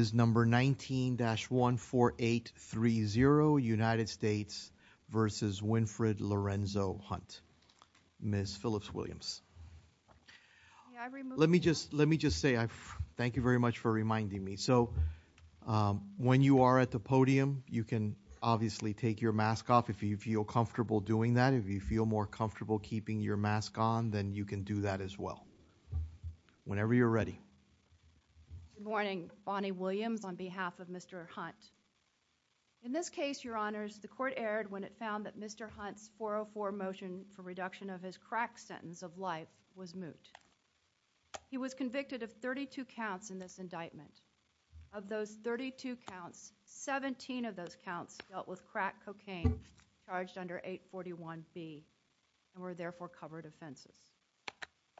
is number 19-14830 United States v. Winfred Lorenzo Hunt, Ms. Phillips-Williams. Let me just let me just say I thank you very much for reminding me so when you are at the podium you can obviously take your mask off if you feel comfortable doing that if you feel more comfortable keeping your mask on then you can do that as well whenever you're ready Good morning, Bonnie Williams on behalf of Mr. Hunt. In this case, your honors, the court erred when it found that Mr. Hunt's 404 motion for reduction of his crack sentence of life was moot. He was convicted of 32 counts in this indictment. Of those 32 counts, 17 of those counts dealt with crack cocaine charged under 841B and were therefore covered offenses.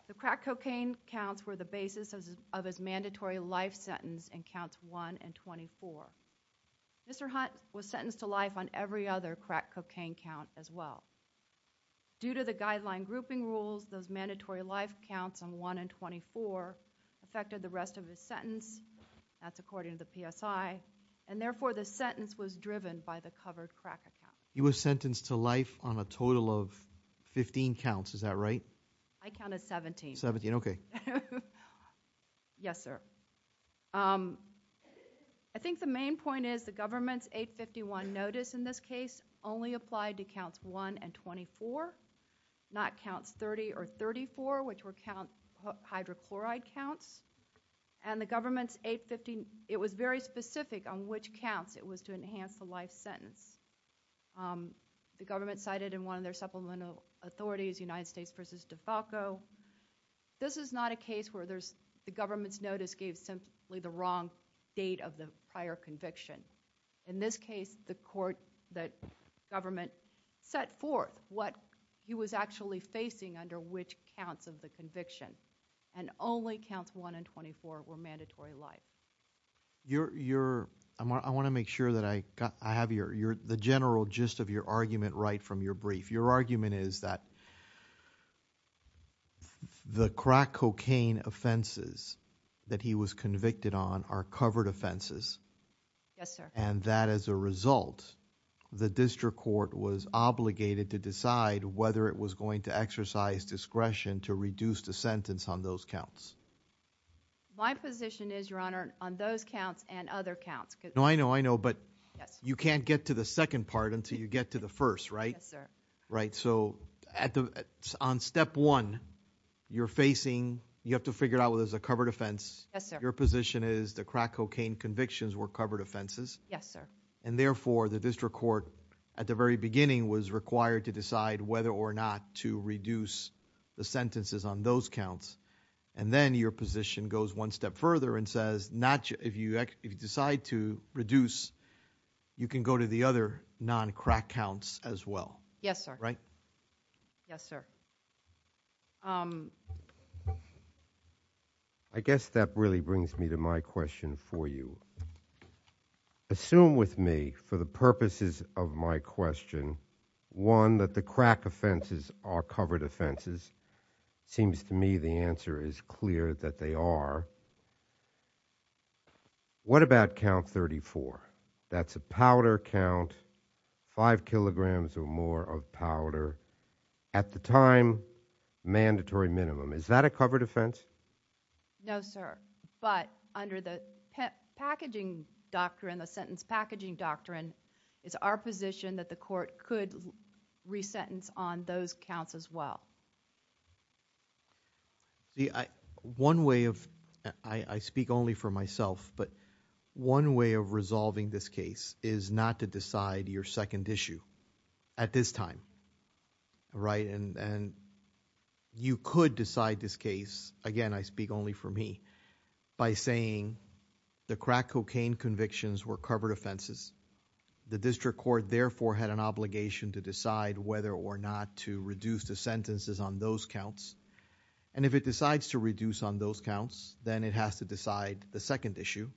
The mandatory life sentence in counts 1 and 24. Mr. Hunt was sentenced to life on every other crack cocaine count as well. Due to the guideline grouping rules, those mandatory life counts on 1 and 24 affected the rest of his sentence. That's according to the PSI and therefore the sentence was driven by the covered crack account. You were sentenced to life on a total of 15 counts, is that right? I counted 17. 17, okay. Yes, sir. I think the main point is the government's 851 notice in this case only applied to counts 1 and 24, not counts 30 or 34 which were count hydrochloride counts and the government's 850, it was very specific on which counts it was to United States versus DeFalco. This is not a case where the government's notice gave simply the wrong date of the prior conviction. In this case, the court, the government set forth what he was actually facing under which counts of the conviction and only counts 1 and 24 were mandatory life. I want to make sure that I have the general gist of your argument right from your brief. Your argument is that the crack cocaine offenses that he was convicted on are covered offenses. Yes, sir. And that as a result, the district court was obligated to decide whether it was going to exercise discretion to reduce the sentence on those counts. My position is, Your Honor, on those counts and other counts. No, I know, I know, but you can't get to the Right. So at the on step one, you're facing, you have to figure out whether it's a covered offense. Yes, sir. Your position is the crack cocaine convictions were covered offenses. Yes, sir. And therefore, the district court at the very beginning was required to decide whether or not to reduce the sentences on those counts. And then your position goes one step further and says not if you decide to reduce, you can go to the other non crack counts as well. Yes, sir. Right. Yes, sir. I guess that really brings me to my question for you. Assume with me for the purposes of my question, one, that the crack offenses are covered offenses. Seems to me the answer is clear that they are. What about count 34? That's a powder count. Five kilograms or more of powder at the time. Mandatory minimum. Is that a covered offense? No, sir. But under the packaging doctrine, the sentence packaging doctrine is our position that the court could resentence on those counts as well. See, I one way of I speak only for myself, but one way of resolving this case is not to decide your second issue at this time. Right. And you could decide this case. Again, I speak only for me by saying the crack cocaine convictions were covered offenses. The district court, therefore, had an obligation to decide whether or not to reduce the sentences on those counts. And if it decides to reduce on those counts, then it has to decide the second issue.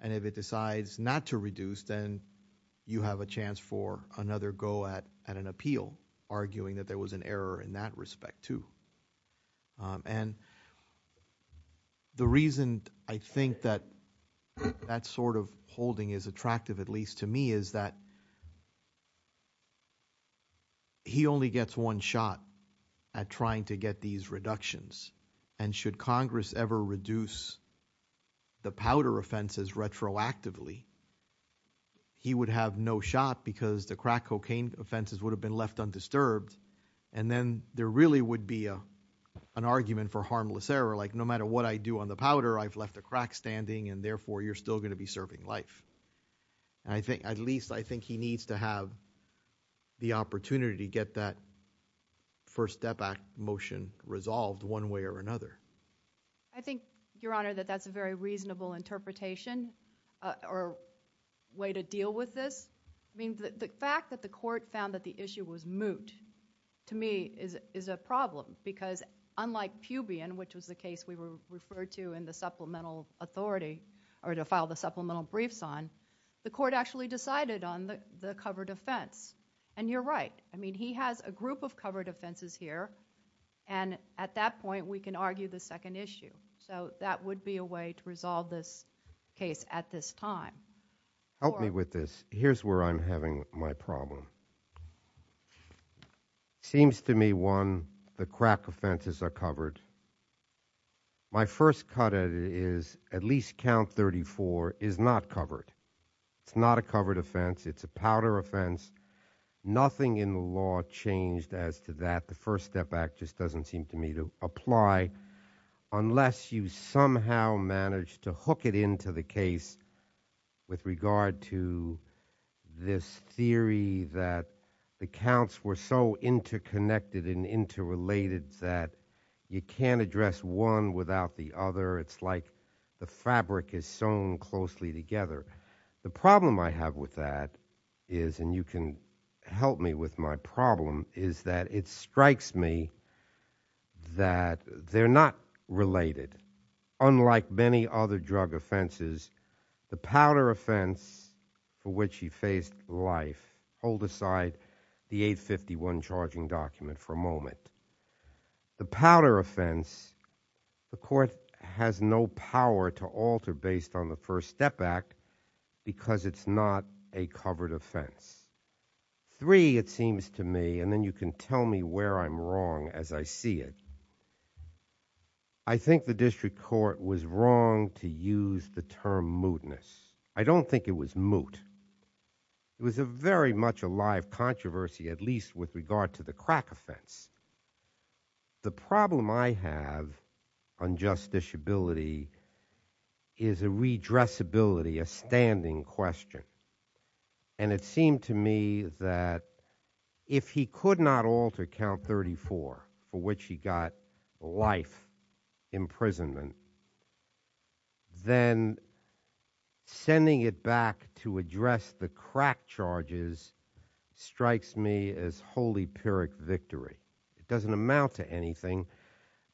And if it decides not to reduce, then you have a chance for another go at an appeal, arguing that there was an error in that respect, too. And the reason I think that that sort of holding is attractive, at least to me, is that. He only gets one shot at trying to get these reductions, and should Congress ever reduce the powder offenses retroactively. He would have no shot because the crack cocaine offenses would have been left undisturbed, and then there really would be a an argument for harmless error, like no matter what I do on the powder, I've left a crack standing, and therefore, you're still going to be serving life. And I think at least I think he needs to have the opportunity to get that First Step Act motion resolved one way or another. I think, Your Honor, that that's a very reasonable interpretation or way to deal with this. I mean, the fact that the court found that the issue was moot to me is a problem, because unlike Pubian, which was the case we were referred to in the supplemental authority or to file the supplemental briefs on, the court actually decided on the covered offense. And you're right. I mean, he has a group of covered offenses here, and at that point, we can argue the second issue. So that would be a way to resolve this case at this time. Help me with this. Here's where I'm having my problem. Seems to me, one, the crack offenses are covered. My first cut at it is at least count 34 is not covered. It's not a covered offense. It's a powder offense. Nothing in the law changed as to that. The First Step Act just doesn't seem to me to apply unless you somehow manage to hook it into the case with regard to this theory that the counts were so interconnected and interrelated that you can't address one without the other. It's like the fabric is sewn closely together. The problem I have with that is, and you can help me with my problem, is that it strikes me that they're not related. Unlike many other drug offenses, the powder offense for which he faced life, hold aside the 851 charging document for a moment. The powder offense, the court has no power to alter based on the First Step Act because it's not a covered offense. Three, it seems to me, and then you can tell me where I'm wrong as I see it, I think the district court was wrong to use the term mootness. I don't think it was moot. It was a very much alive controversy, at least with regard to the crack offense. The problem I have on justiciability is a redressability, a standing question, and it seemed to me that if he could not alter count 34 for which he got life imprisonment, then sending it back to address the crack charges strikes me as holy pyrrhic victory. It doesn't amount to anything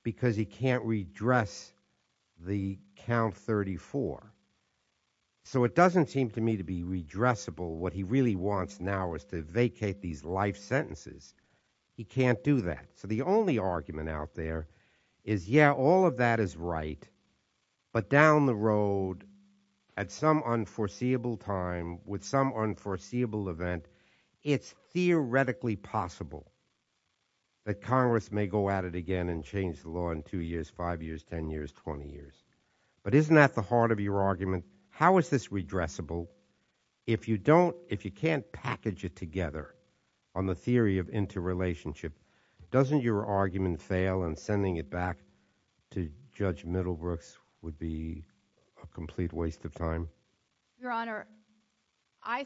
because he can't redress the count 34. So it doesn't seem to me to be redressable. What he really wants now is to vacate these life sentences. He can't do that. So the only argument out there is, yeah, all of that is right, but down the road at some unforeseeable time with some unforeseeable event, it's theoretically possible that Congress may go at it again and change the law in two years, five years, ten years, twenty years. But isn't that the heart of your argument? How is this redressable? If you don't, if you can't package it together on the theory of interrelationship, doesn't your argument fail in sending it back to Judge Middlebrooks would be a complete waste of time? Your Honor, I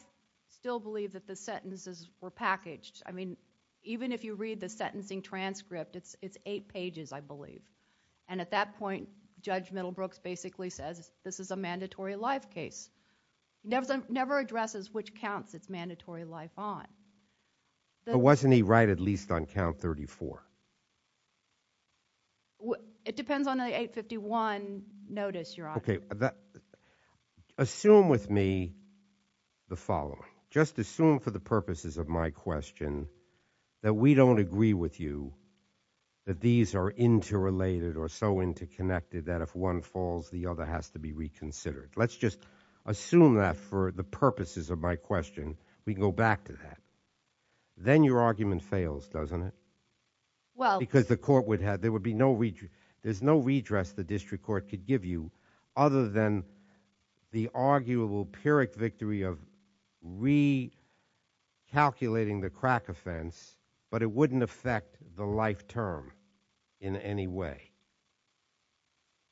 still believe that the sentences were packaged. I mean, even if you read the sentencing transcript, it's eight pages, I believe. And at that point, Judge Middlebrooks basically says this is a mandatory life case. He never addresses which counts it's mandatory life on. But wasn't he right at least on count 34? It depends on the 851 notice, Your Honor. Okay. Assume with me the following. Just assume for the purposes of my question that we don't agree with you that these are interrelated or so interconnected that if one falls, the other has to be reconsidered. Let's just assume that for the purposes of my question. We can go back to that. Then your argument fails, doesn't it? Well. Because the court would have, there would be no, there's no redress the district court could give other than the arguable Pyrrhic victory of recalculating the crack offense, but it wouldn't affect the life term in any way.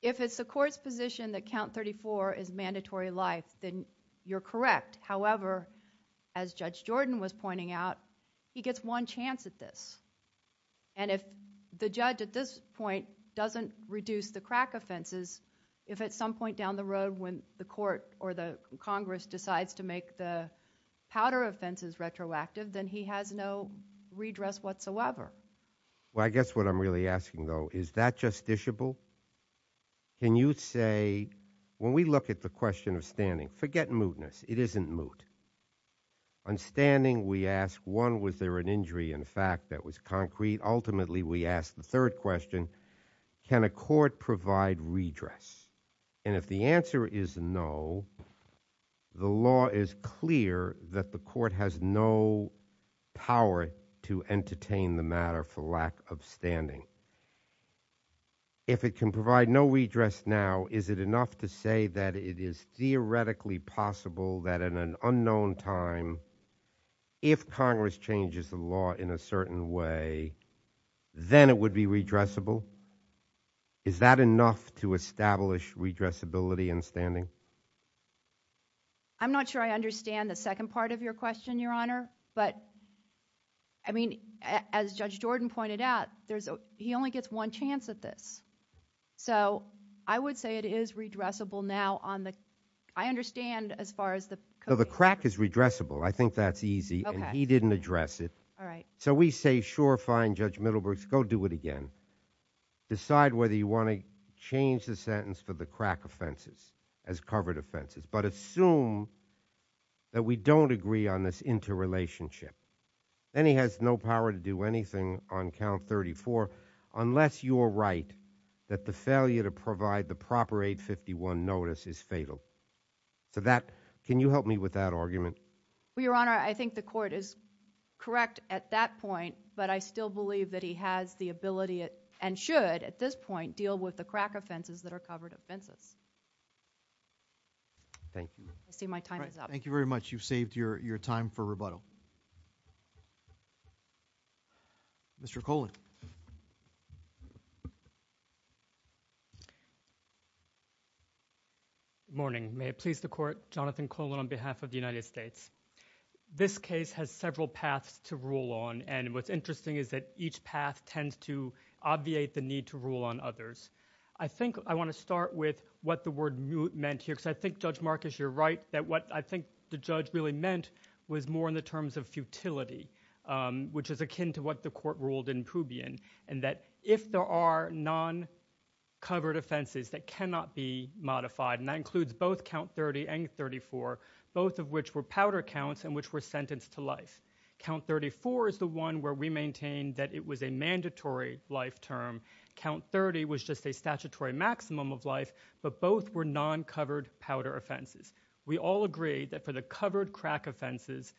If it's the court's position that count 34 is mandatory life, then you're correct. However, as Judge Jordan was pointing out, he gets one chance at this. And if the judge at this point doesn't reduce the crack offenses, if at some point down the road when the court or the Congress decides to make the powder offenses retroactive, then he has no redress whatsoever. Well, I guess what I'm really asking though, is that justiciable? Can you say, when we look at the question of standing, forget mootness, it isn't moot. On standing, we ask one, was there an injury in fact that was concrete? Ultimately, we ask the third question, can a court provide redress? And if the answer is no, the law is clear that the court has no power to entertain the matter for lack of standing. If it can provide no redress now, is it enough to say that it is theoretically possible that in an unknown time, if Congress changes the law in a certain way, then it would be redressable? Is that enough to establish redressability in standing? I'm not sure I understand the second part of your question, Your Honor. But I mean, as Judge Jordan pointed out, he only gets one chance at this. So I would say it is redressable now on the, I understand as far as the- So the crack is redressable. I think that's easy, and he didn't address it. All right. So we say, sure, fine, Judge Middlebrooks, go do it again. Decide whether you want to change the sentence for the crack offenses as covered offenses, but assume that we don't agree on this interrelationship. Then he has no power to anything on count 34 unless you're right that the failure to provide the proper 851 notice is fatal. So that, can you help me with that argument? Well, Your Honor, I think the court is correct at that point, but I still believe that he has the ability and should at this point deal with the crack offenses that are covered offenses. Thank you. I see my time is up. Thank you very much. Mr. Colan. Good morning. May it please the court, Jonathan Colan on behalf of the United States. This case has several paths to rule on, and what's interesting is that each path tends to obviate the need to rule on others. I think I want to start with what the word meant here, because I think Judge Marcus, you're right, that what I think the judge really meant was more in terms of futility, which is akin to what the court ruled in Pubian, and that if there are non-covered offenses that cannot be modified, and that includes both count 30 and 34, both of which were powder counts and which were sentenced to life. Count 34 is the one where we maintained that it was a mandatory life term. Count 30 was just a statutory maximum of life, but both were non-covered powder offenses. We all agreed that for the covered crack offenses,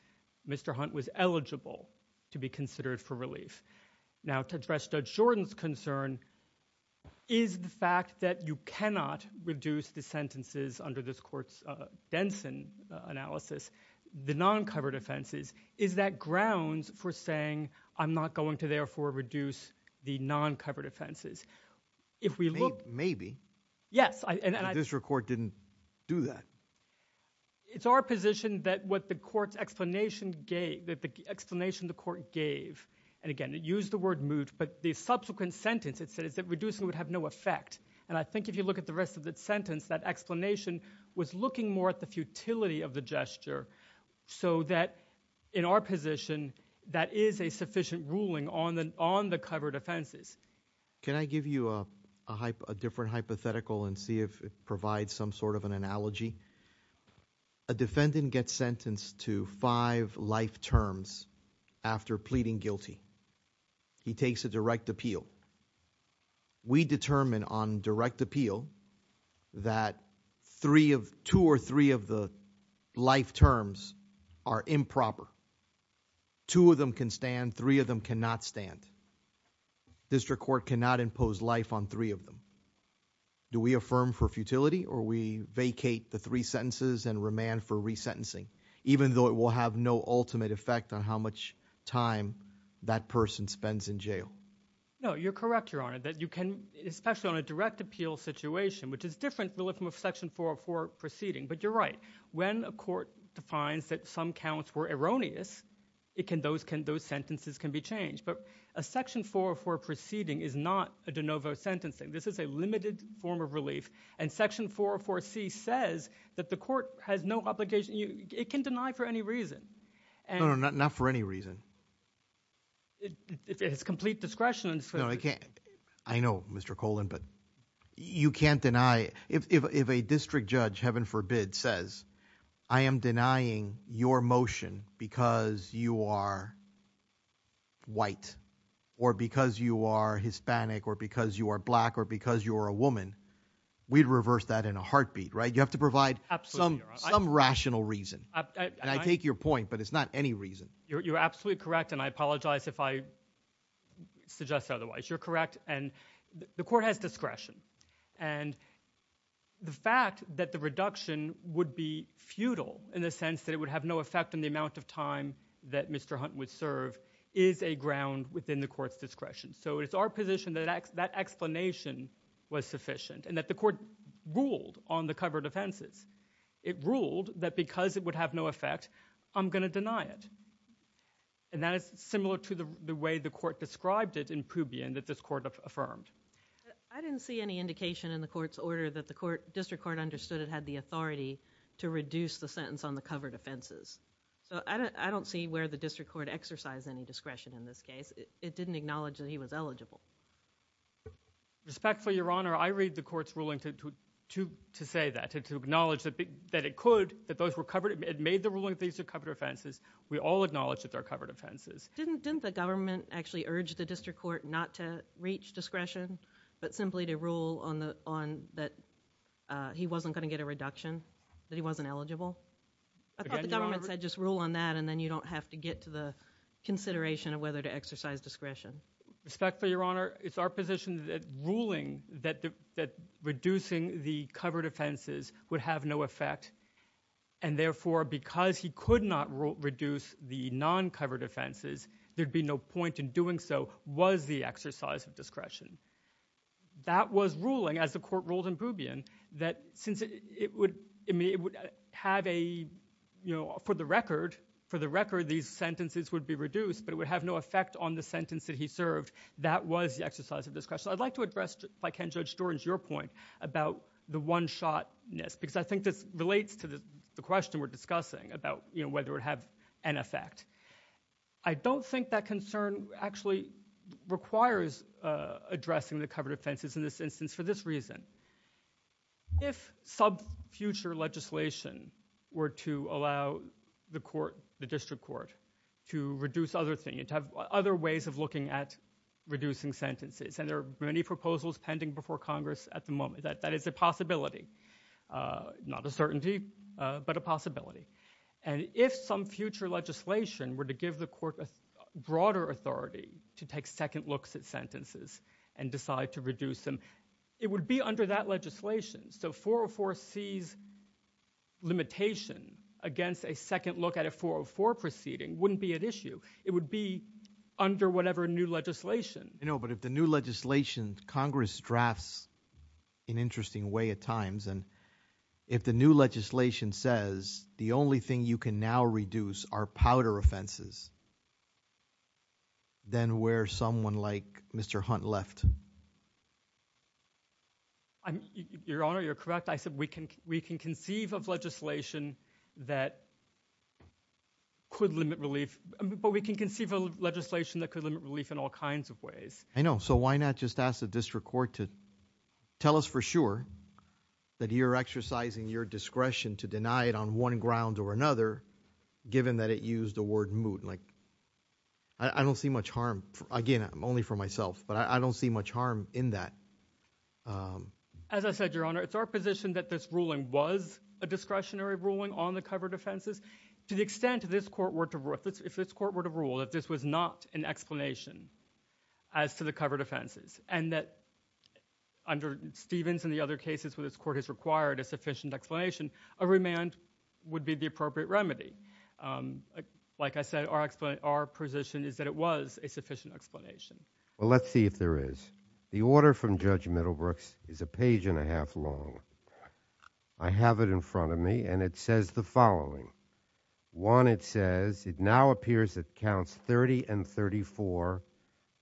Mr. Hunt was eligible to be considered for relief. Now to address Judge Jordan's concern is the fact that you cannot reduce the sentences under this court's Denson analysis, the non-covered offenses, is that grounds for saying I'm not going to therefore reduce the non-covered offenses? Maybe, but this court didn't do that. It's our position that what the court's explanation gave, that the explanation the court gave, and again it used the word moot, but the subsequent sentence it said is that reducing would have no effect, and I think if you look at the rest of that sentence, that explanation was looking more at the futility of the gesture so that in our position that is a sufficient ruling on the covered offenses. Can I give you a different hypothetical and see if it provides some sort of an analogy? A defendant gets sentenced to five life terms after pleading guilty. He takes a direct appeal. We determine on direct appeal that two or three of the life terms are improper. Two of them can stand, three of them cannot stand. District court cannot impose life on three of them. Do we affirm for futility or we vacate the three sentences and remand for resentencing, even though it will have no ultimate effect on how much time that person spends in jail? No, you're correct, Your Honor, that you can, especially on direct appeal situation, which is different from a section 404 proceeding, but you're right. When a court defines that some counts were erroneous, those sentences can be changed, but a section 404 proceeding is not a de novo sentencing. This is a limited form of relief, and section 404c says that the court has no obligation. It can deny for any reason. No, not for any reason. It's complete discretion. No, I can't. I know, Mr. Colan, but you can't deny. If a district judge, heaven forbid, says, I am denying your motion because you are white or because you are Hispanic or because you are black or because you are a woman, we'd reverse that in a heartbeat, right? You have to provide some rational reason, and I take your point, but it's not any reason. You're absolutely correct, and I otherwise. You're correct, and the court has discretion, and the fact that the reduction would be futile in the sense that it would have no effect on the amount of time that Mr. Hunt would serve is a ground within the court's discretion, so it's our position that that explanation was sufficient and that the court ruled on the covered offenses. It ruled that because it would have no effect, I'm going to deny it, and that is similar to the way the court described it in Pubian that this court affirmed. I didn't see any indication in the court's order that the district court understood it had the authority to reduce the sentence on the covered offenses, so I don't see where the district court exercised any discretion in this case. It didn't acknowledge that he was eligible. Respectfully, Your Honor, I read the court's ruling to say that, to acknowledge that it could, that those were covered. It made the ruling that these are covered offenses. We all acknowledge that they're covered offenses. Didn't the government actually urge the district court not to reach discretion, but simply to rule on the, on that he wasn't going to get a reduction, that he wasn't eligible? I thought the government said just rule on that and then you don't have to get to the consideration of whether to exercise discretion. Respectfully, Your Honor, it's our position that ruling that, that reducing the covered offenses would have no effect, and therefore because he could not reduce the non-covered offenses, there'd be no point in doing so, was the exercise of discretion. That was ruling, as the court ruled in Boubian, that since it would, I mean, it would have a, you know, for the record, for the record, these sentences would be reduced, but it would have no effect on the sentence that he served. That was the exercise of discretion. I'd like to address, if I can, Judge Storins, your point about the one-shot-ness, because I think this relates to the question we're discussing about, you know, whether it would have an effect. I don't think that concern actually requires addressing the covered offenses in this instance for this reason. If sub-future legislation were to allow the court, the district court, to reduce other things, to have other ways of looking at reducing sentences, and there are many proposals pending before Congress at the moment, that that is a possibility, not a certainty, but a possibility, and if some future legislation were to give the court a broader authority to take second looks at sentences and decide to reduce them, it would be under that legislation. So 404C's limitation against a second look at a 404 proceeding wouldn't be an issue. It would be under whatever new legislation. You know, but if the new legislation Congress drafts in an interesting way at times, and if the new legislation says the only thing you can now reduce are powder offenses, then where's someone like Mr. Hunt left? Your Honor, you're correct. I said we can conceive of legislation that could limit relief, but we can conceive of legislation that could limit relief in all circumstances. I don't see much harm, again, only for myself, but I don't see much harm in that. As I said, Your Honor, it's our position that this ruling was a discretionary ruling on the covered offenses. To the extent this court were to rule that this was not an explanation as to the covered offenses, and that under Stevens and the other cases where this court has required a sufficient explanation, a remand would be the appropriate remedy. Like I said, our position is that it was a sufficient explanation. Well, let's see if there is. The order from Judge Middlebrooks is a page and a half long. I have it in front of me, and it says the following. One, it says, it now appears that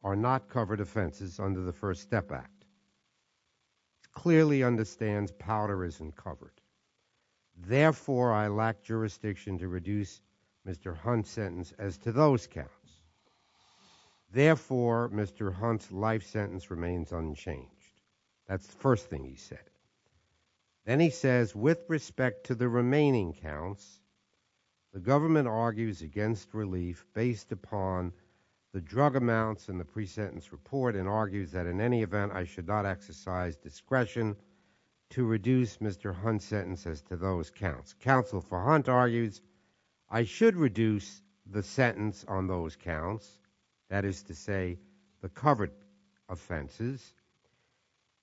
are not covered offenses under the First Step Act. It clearly understands powder isn't covered. Therefore, I lack jurisdiction to reduce Mr. Hunt's sentence as to those counts. Therefore, Mr. Hunt's life sentence remains unchanged. That's the first thing he said. Then he says, with respect to the remaining counts, the government argues against relief based upon the drug amounts in the pre-sentence report and argues that in any event, I should not exercise discretion to reduce Mr. Hunt's sentence as to those counts. Counsel for Hunt argues, I should reduce the sentence on those counts, that is to say, the covered offenses,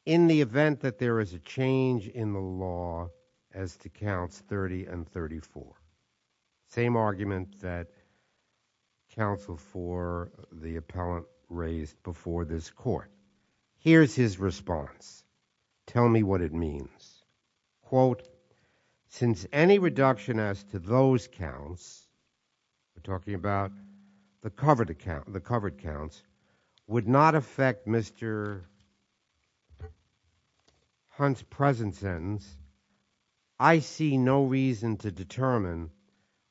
in the event that there is a change in the law as to counts 30 and 34. Same argument that counsel for the appellant raised before this court. Here's his response. Tell me what it means. Quote, since any reduction as to those counts, we're talking about the covered accounts, would not affect Mr. Hunt's present sentence, I see no reason to determine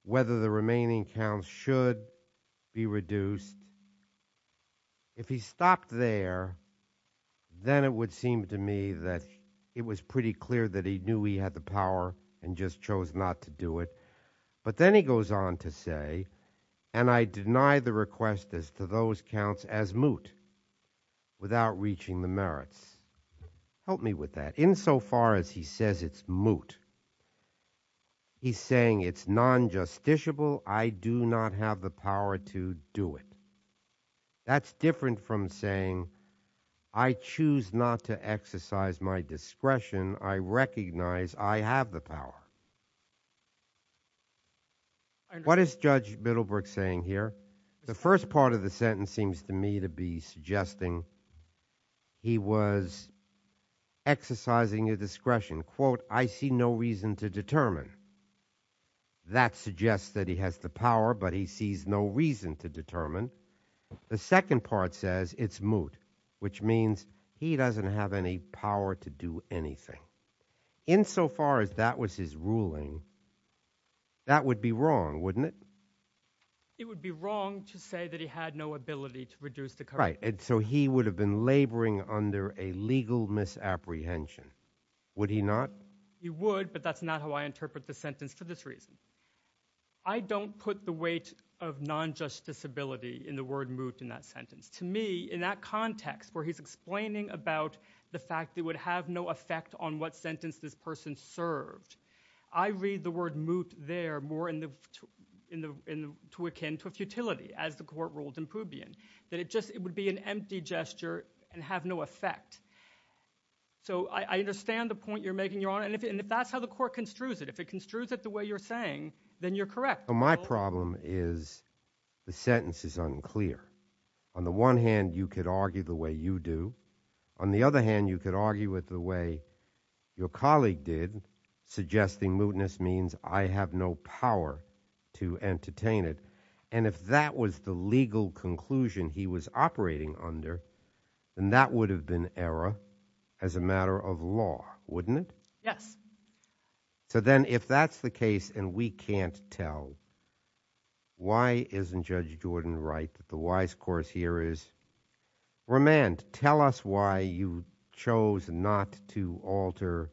whether the remaining counts should be reduced. If he stopped there, then it would seem to me that it was pretty clear that he knew he had the power and just chose not to do it. But then he goes on to say, and I deny the request as to those counts as moot without reaching the merits. Help me with that. In so far as he says it's moot, he's saying it's non-justiciable. I do not have the power to do it. That's different from saying I choose not to exercise my discretion. I recognize I have the power. What is Judge Middlebrook saying here? The first part of the sentence seems to me to be suggesting he was exercising a discretion. Quote, I see no reason to determine. That suggests that he has the power, but he sees no reason to determine. The second part says it's moot, which means he doesn't have any power to do anything. In so far as that was his ruling, that would be wrong, wouldn't it? It would be wrong to say that he had no ability to reduce the current. Right, and so he would have been laboring under a legal misapprehension. Would he not? He would, but that's not how I interpret the sentence for this reason. I don't put the weight of non-justiceability in the word in that sentence. To me, in that context where he's explaining about the fact it would have no effect on what sentence this person served, I read the word moot there more to akin to futility, as the court ruled in Pubian, that it would be an empty gesture and have no effect. So I understand the point you're making, Your Honor, and if that's how the court construes it, if it construes it the way you're saying, then you're correct. My problem is the sentence is unclear. On the one hand, you could argue the way you do. On the other hand, you could argue with the way your colleague did, suggesting mootness means I have no power to entertain it, and if that was the legal conclusion he was operating under, then that would have been error as a matter of law, wouldn't it? Yes. So then if that's the case and we can't tell, why isn't Judge Jordan right that the wise course here is remand? Tell us why you chose not to alter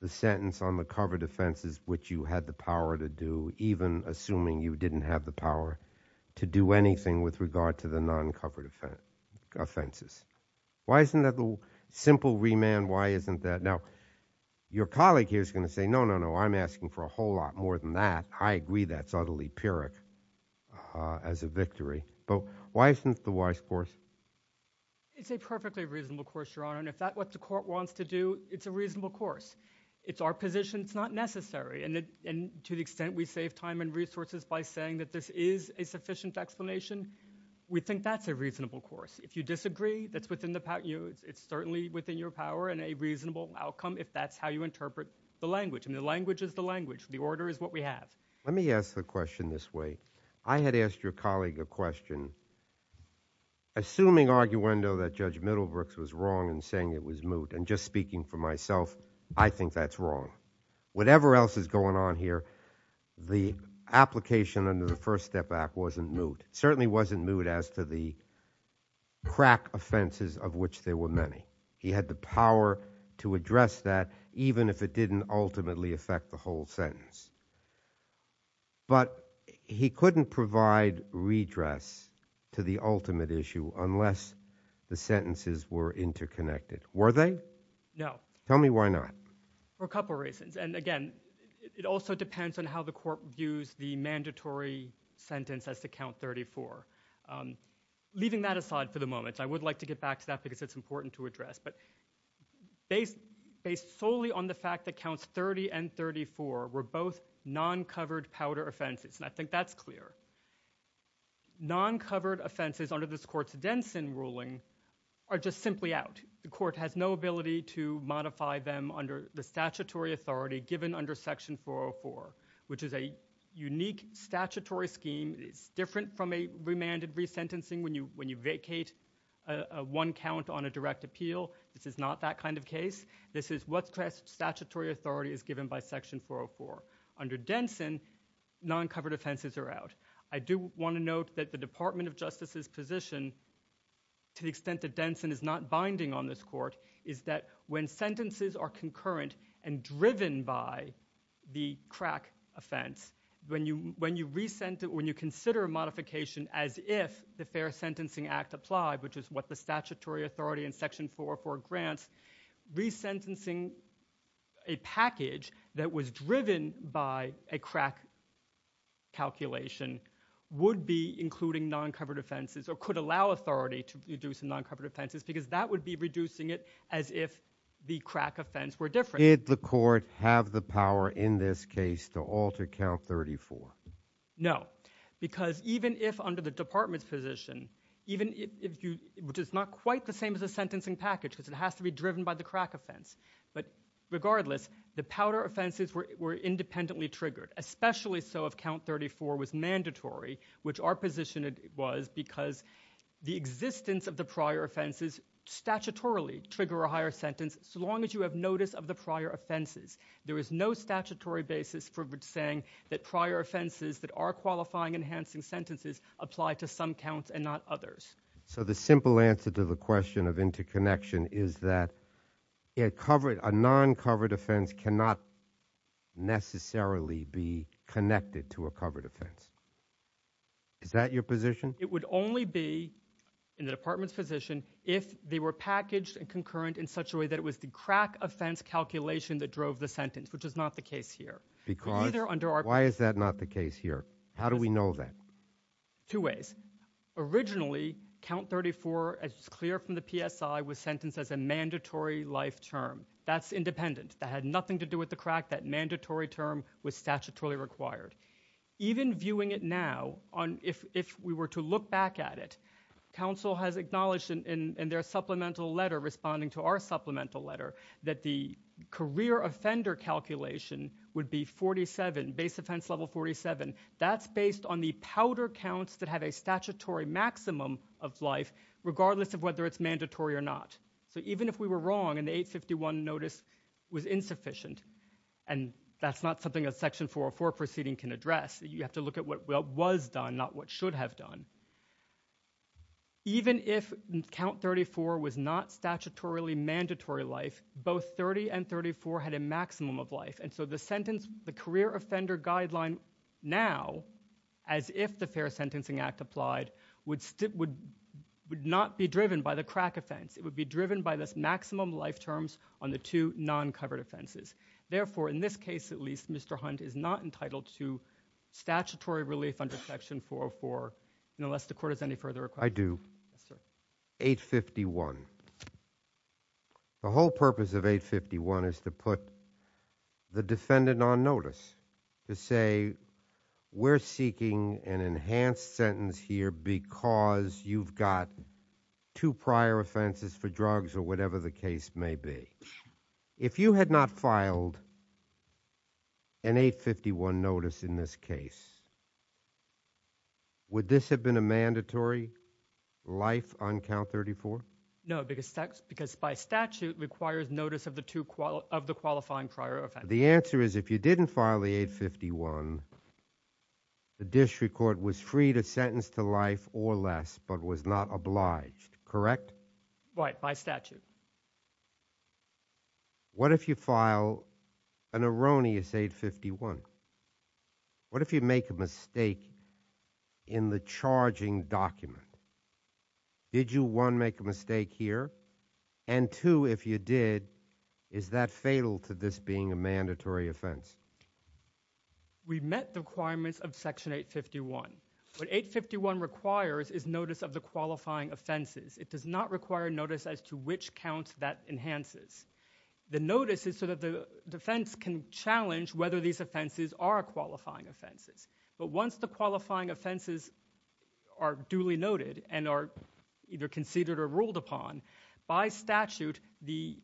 the sentence on the covered offenses which you had the power to do, even assuming you didn't have the power to do anything with regard to the non-covered offenses. Why isn't that a simple remand? Why isn't that? Now, your colleague here is going to say, no, no, no, I'm asking for a whole lot more than that. I agree that's utterly pyrrhic as a victory, but why isn't the wise course? It's a perfectly reasonable course, your honor, and if that's what the court wants to do, it's a reasonable course. It's our position, it's not necessary, and to the extent we save time and resources by saying that this is a sufficient explanation, we think that's a reasonable course. If you disagree, that's within the power, it's certainly within your power and a reasonable outcome if that's how you interpret the language, and the language is the language, the order is what we have. Let me ask the question this way. I had asked your colleague a question. Assuming arguendo that Judge Middlebrooks was wrong in saying it was moot, and just speaking for myself, I think that's wrong. Whatever else is going on here, the application under the First Step Act wasn't moot. It certainly wasn't moot as to the crack offenses of which there were many. He had the power to address that even if it didn't ultimately affect the whole sentence, but he couldn't provide redress to the ultimate issue unless the sentences were interconnected. Were they? No. Tell me why not. For a couple reasons, and again, it also depends on how the court views the mandatory sentence as to count 34. Leaving that aside for the moment, I would like to get back to that because it's important to address. Based solely on the fact that counts 30 and 34 were both non-covered powder offenses, and I think that's clear. Non-covered offenses under this court's Denson ruling are just simply out. The court has no ability to modify them under the statutory authority given under Section 404, which is a unique statutory scheme. It's different from a remanded resentencing when you vacate one count on a direct appeal. This is not that kind of case. This is what statutory authority is given by Section 404. Under Denson, non-covered offenses are out. I do want to note that the Department of Justice's position, to the extent that Denson is not binding on this court, is that when sentences are concurrent and driven by the modification as if the Fair Sentencing Act applied, which is what the statutory authority in Section 404 grants, resentencing a package that was driven by a crack calculation would be including non-covered offenses or could allow authority to reduce the non-covered offenses because that would be reducing it as if the crack offense were different. Did the court have the under the Department's position, which is not quite the same as a sentencing package because it has to be driven by the crack offense, but regardless, the powder offenses were independently triggered, especially so if count 34 was mandatory, which our position was because the existence of the prior offenses statutorily trigger a higher sentence so long as you have notice of the prior offenses. There is no statutory basis for saying that prior offenses that are qualifying enhancing sentences apply to some counts and not others. So the simple answer to the question of interconnection is that a non-covered offense cannot necessarily be connected to a covered offense. Is that your position? It would only be in the Department's position if they were packaged and concurrent in such a way that it was the crack offense calculation that drove the sentence, which is not the case here. Why is that not the case here? How do we know that? Two ways. Originally, count 34, as clear from the PSI, was sentenced as a mandatory life term. That's independent. That had nothing to do with the crack. That mandatory term was statutorily required. Even viewing it now, if we were to look back at it, counsel has acknowledged in their supplemental letter, responding to our supplemental letter, that the career offender calculation would be 47, base offense level 47. That's based on the powder counts that have a statutory maximum of life, regardless of whether it's mandatory or not. So even if we were wrong and the 851 notice was insufficient, and that's not something a section 404 proceeding can address, you have to look at what was done, not what should have done. Even if count 34 was not And so the sentence, the career offender guideline now, as if the Fair Sentencing Act applied, would not be driven by the crack offense. It would be driven by this maximum life terms on the two non-covered offenses. Therefore, in this case at least, Mr. Hunt is not entitled to statutory relief under section 404, unless the court has any further request. I do. 851. The whole purpose of 851 is to put the defendant on notice, to say we're seeking an enhanced sentence here because you've got two prior offenses for drugs or whatever the case may be. If you had not filed an 851 notice in this case, would this have been a mandatory life on count 34? No, because by statute requires notice of the qualifying prior offense. The answer is if you didn't file the 851, the district court was free to sentence to life or less, but was not obliged, correct? Right, by statute. What if you file an erroneous 851? What if you make a mistake in the charging document? Did you, one, make a mistake here, and two, if you did, is that fatal to this being a mandatory offense? We met the requirements of section 851. What 851 requires is notice of the qualifying offenses. It does not require notice as to which counts that enhances. The notice is so that the defense can challenge whether these offenses are qualifying offenses, but once the qualifying offenses are duly noted and are either conceded or ruled upon, by statute, the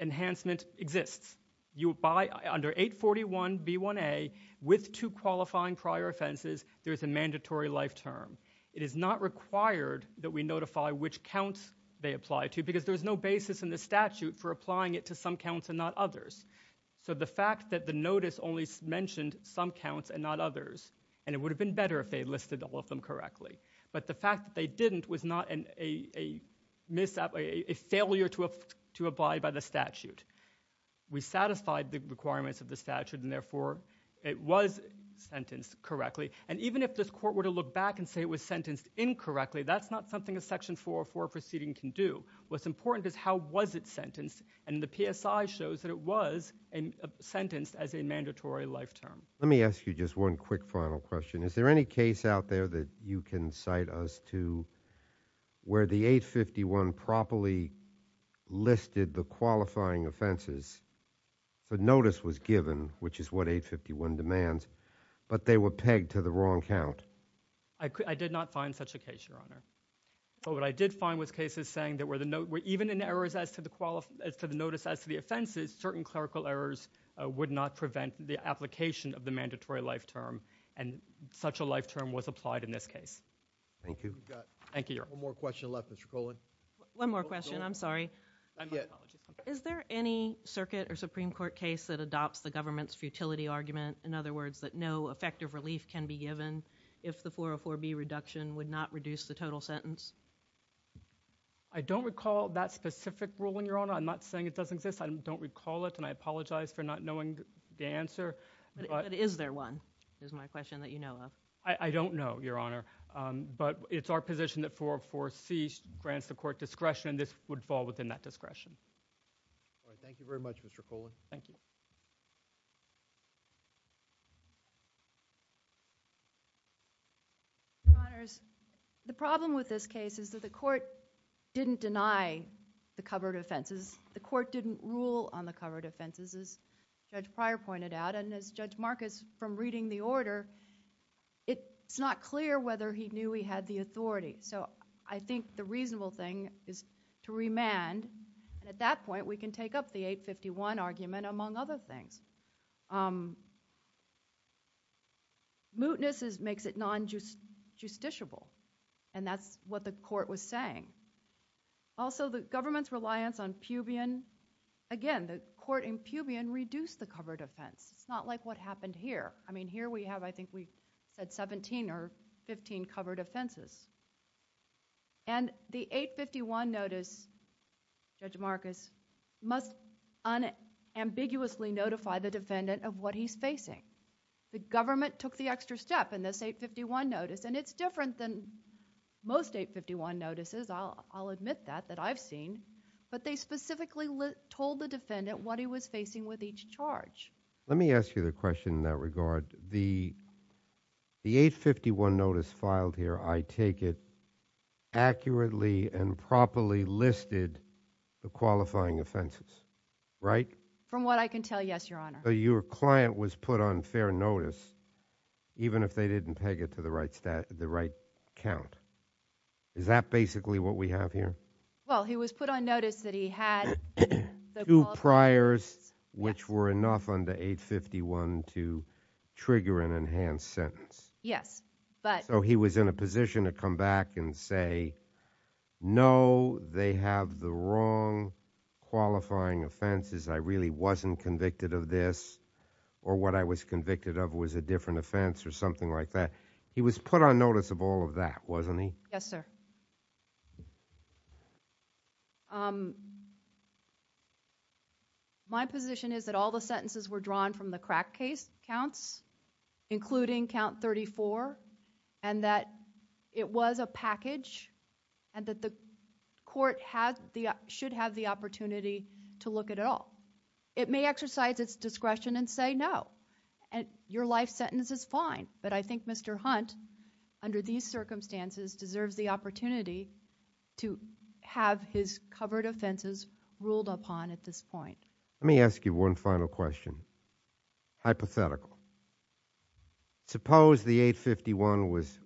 enhancement exists. Under 841B1A, with two qualifying prior offenses, there's a mandatory life term. It is not required that we notify which counts they apply to, because there's no basis in the statute for applying it to some counts and not others. So the fact that the notice only mentioned some counts and not others, and it would have been better if they listed all of them correctly, but the fact that they didn't was not a failure to abide by the statute. We satisfied the requirements of the statute, and therefore it was sentenced correctly, and even if this court were to look back and say it was sentenced incorrectly, that's not something a section 404 proceeding can do. What's important is how was it sentenced, and the PSI shows that it was sentenced as a mandatory life term. Let me ask you just one quick final question. Is there any case out there that you can cite us to where the 851 properly listed the qualifying offenses, the notice was given, which is what 851 demands, but they were pegged to the wrong count? I did not find such a case, Your Honor. But what I did find was cases saying that even in errors as to the notice as to the offenses, certain clerical errors would not prevent the application of the mandatory life term, and such a life term was applied in this case. Thank you. Thank you, Your Honor. One more question left, Mr. Colan. One more question. I'm sorry. Is there any circuit or Supreme Court case that adopts the government's futility argument, in other words, that no effective relief can be given if the 404B reduction would not reduce the total sentence? I don't recall that specific ruling, Your Honor. I'm not saying it doesn't exist. I don't recall it, and I apologize for not knowing the answer. But is there one is my question that you know of? I don't know, Your Honor, but it's our position that 404C grants the court discretion, and this would fall within that discretion. All right. Thank you very much, Mr. Colan. Thank you. Your Honors, the problem with this case is that the court didn't deny the covered offenses. The court didn't rule on the covered offenses, as Judge Pryor pointed out, and as Judge Marcus, from reading the order, it's not clear whether he knew he had the authority. So I think the court didn't deny those things. Mootness makes it non-justiciable, and that's what the court was saying. Also, the government's reliance on Pubian, again, the court in Pubian reduced the covered offense. It's not like what happened here. I mean, here we have, I think we said 17 or 15 covered offenses, and the 851 notice, Judge Marcus, must unambiguously notify the defendant of what he's facing. The government took the extra step in this 851 notice, and it's different than most 851 notices. I'll admit that, that I've seen, but they specifically told the defendant what he was facing with each charge. Let me ask you the question in that regard. The 851 notice filed here, I take it, accurately and properly listed the qualifying offenses, right? From what I can tell, yes, Your Honor. So your client was put on fair notice, even if they didn't peg it to the right stat, the right count. Is that basically what we have here? Well, he was put on notice that he had two priors, which were enough under 851 to trigger an enhanced sentence. Yes, but... So he was in a position to come back and say, no, they have the wrong qualifying offenses. I really wasn't convicted of this, or what I was convicted of was a different offense, or something like that. He was put on notice of all of that, wasn't he? Yes, sir. My position is that all the sentences were drawn from the crack case counts, including count 34, and that it was a package, and that the court should have the opportunity to look at it all. It may exercise its discretion and say, no, your life sentence is fine, but I under these circumstances deserves the opportunity to have his covered offenses ruled upon at this point. Let me ask you one final question. Hypothetical. Suppose the 851 was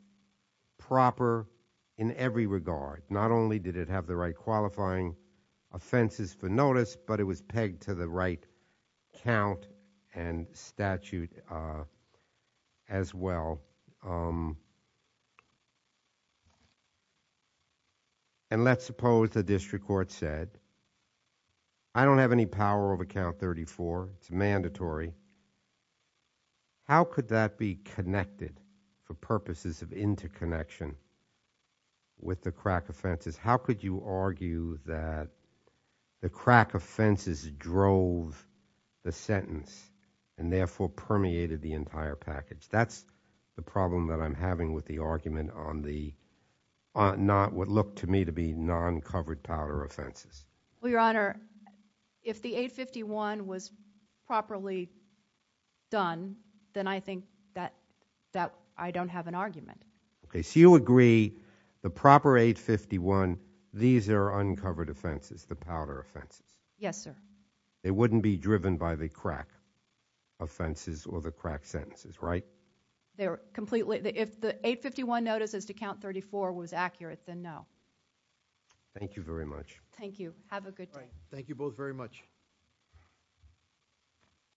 proper in every regard. Not only did it have the right qualifying offenses for notice, but it was a package. And let's suppose the district court said, I don't have any power over count 34, it's mandatory. How could that be connected for purposes of interconnection with the crack offenses? How could you argue that the crack offenses drove the sentence and therefore permeated the entire package? That's the problem that I'm having with the argument on what looked to me to be non-covered powder offenses. Well, your honor, if the 851 was properly done, then I think that I don't have an argument. Okay, so you agree the proper 851, these are uncovered offenses, the powder offenses. Yes, sir. They wouldn't be driven by the crack. Offenses or the crack sentences, right? They're completely, if the 851 notice as to count 34 was accurate, then no. Thank you very much. Thank you. Have a good day. Thank you both very much.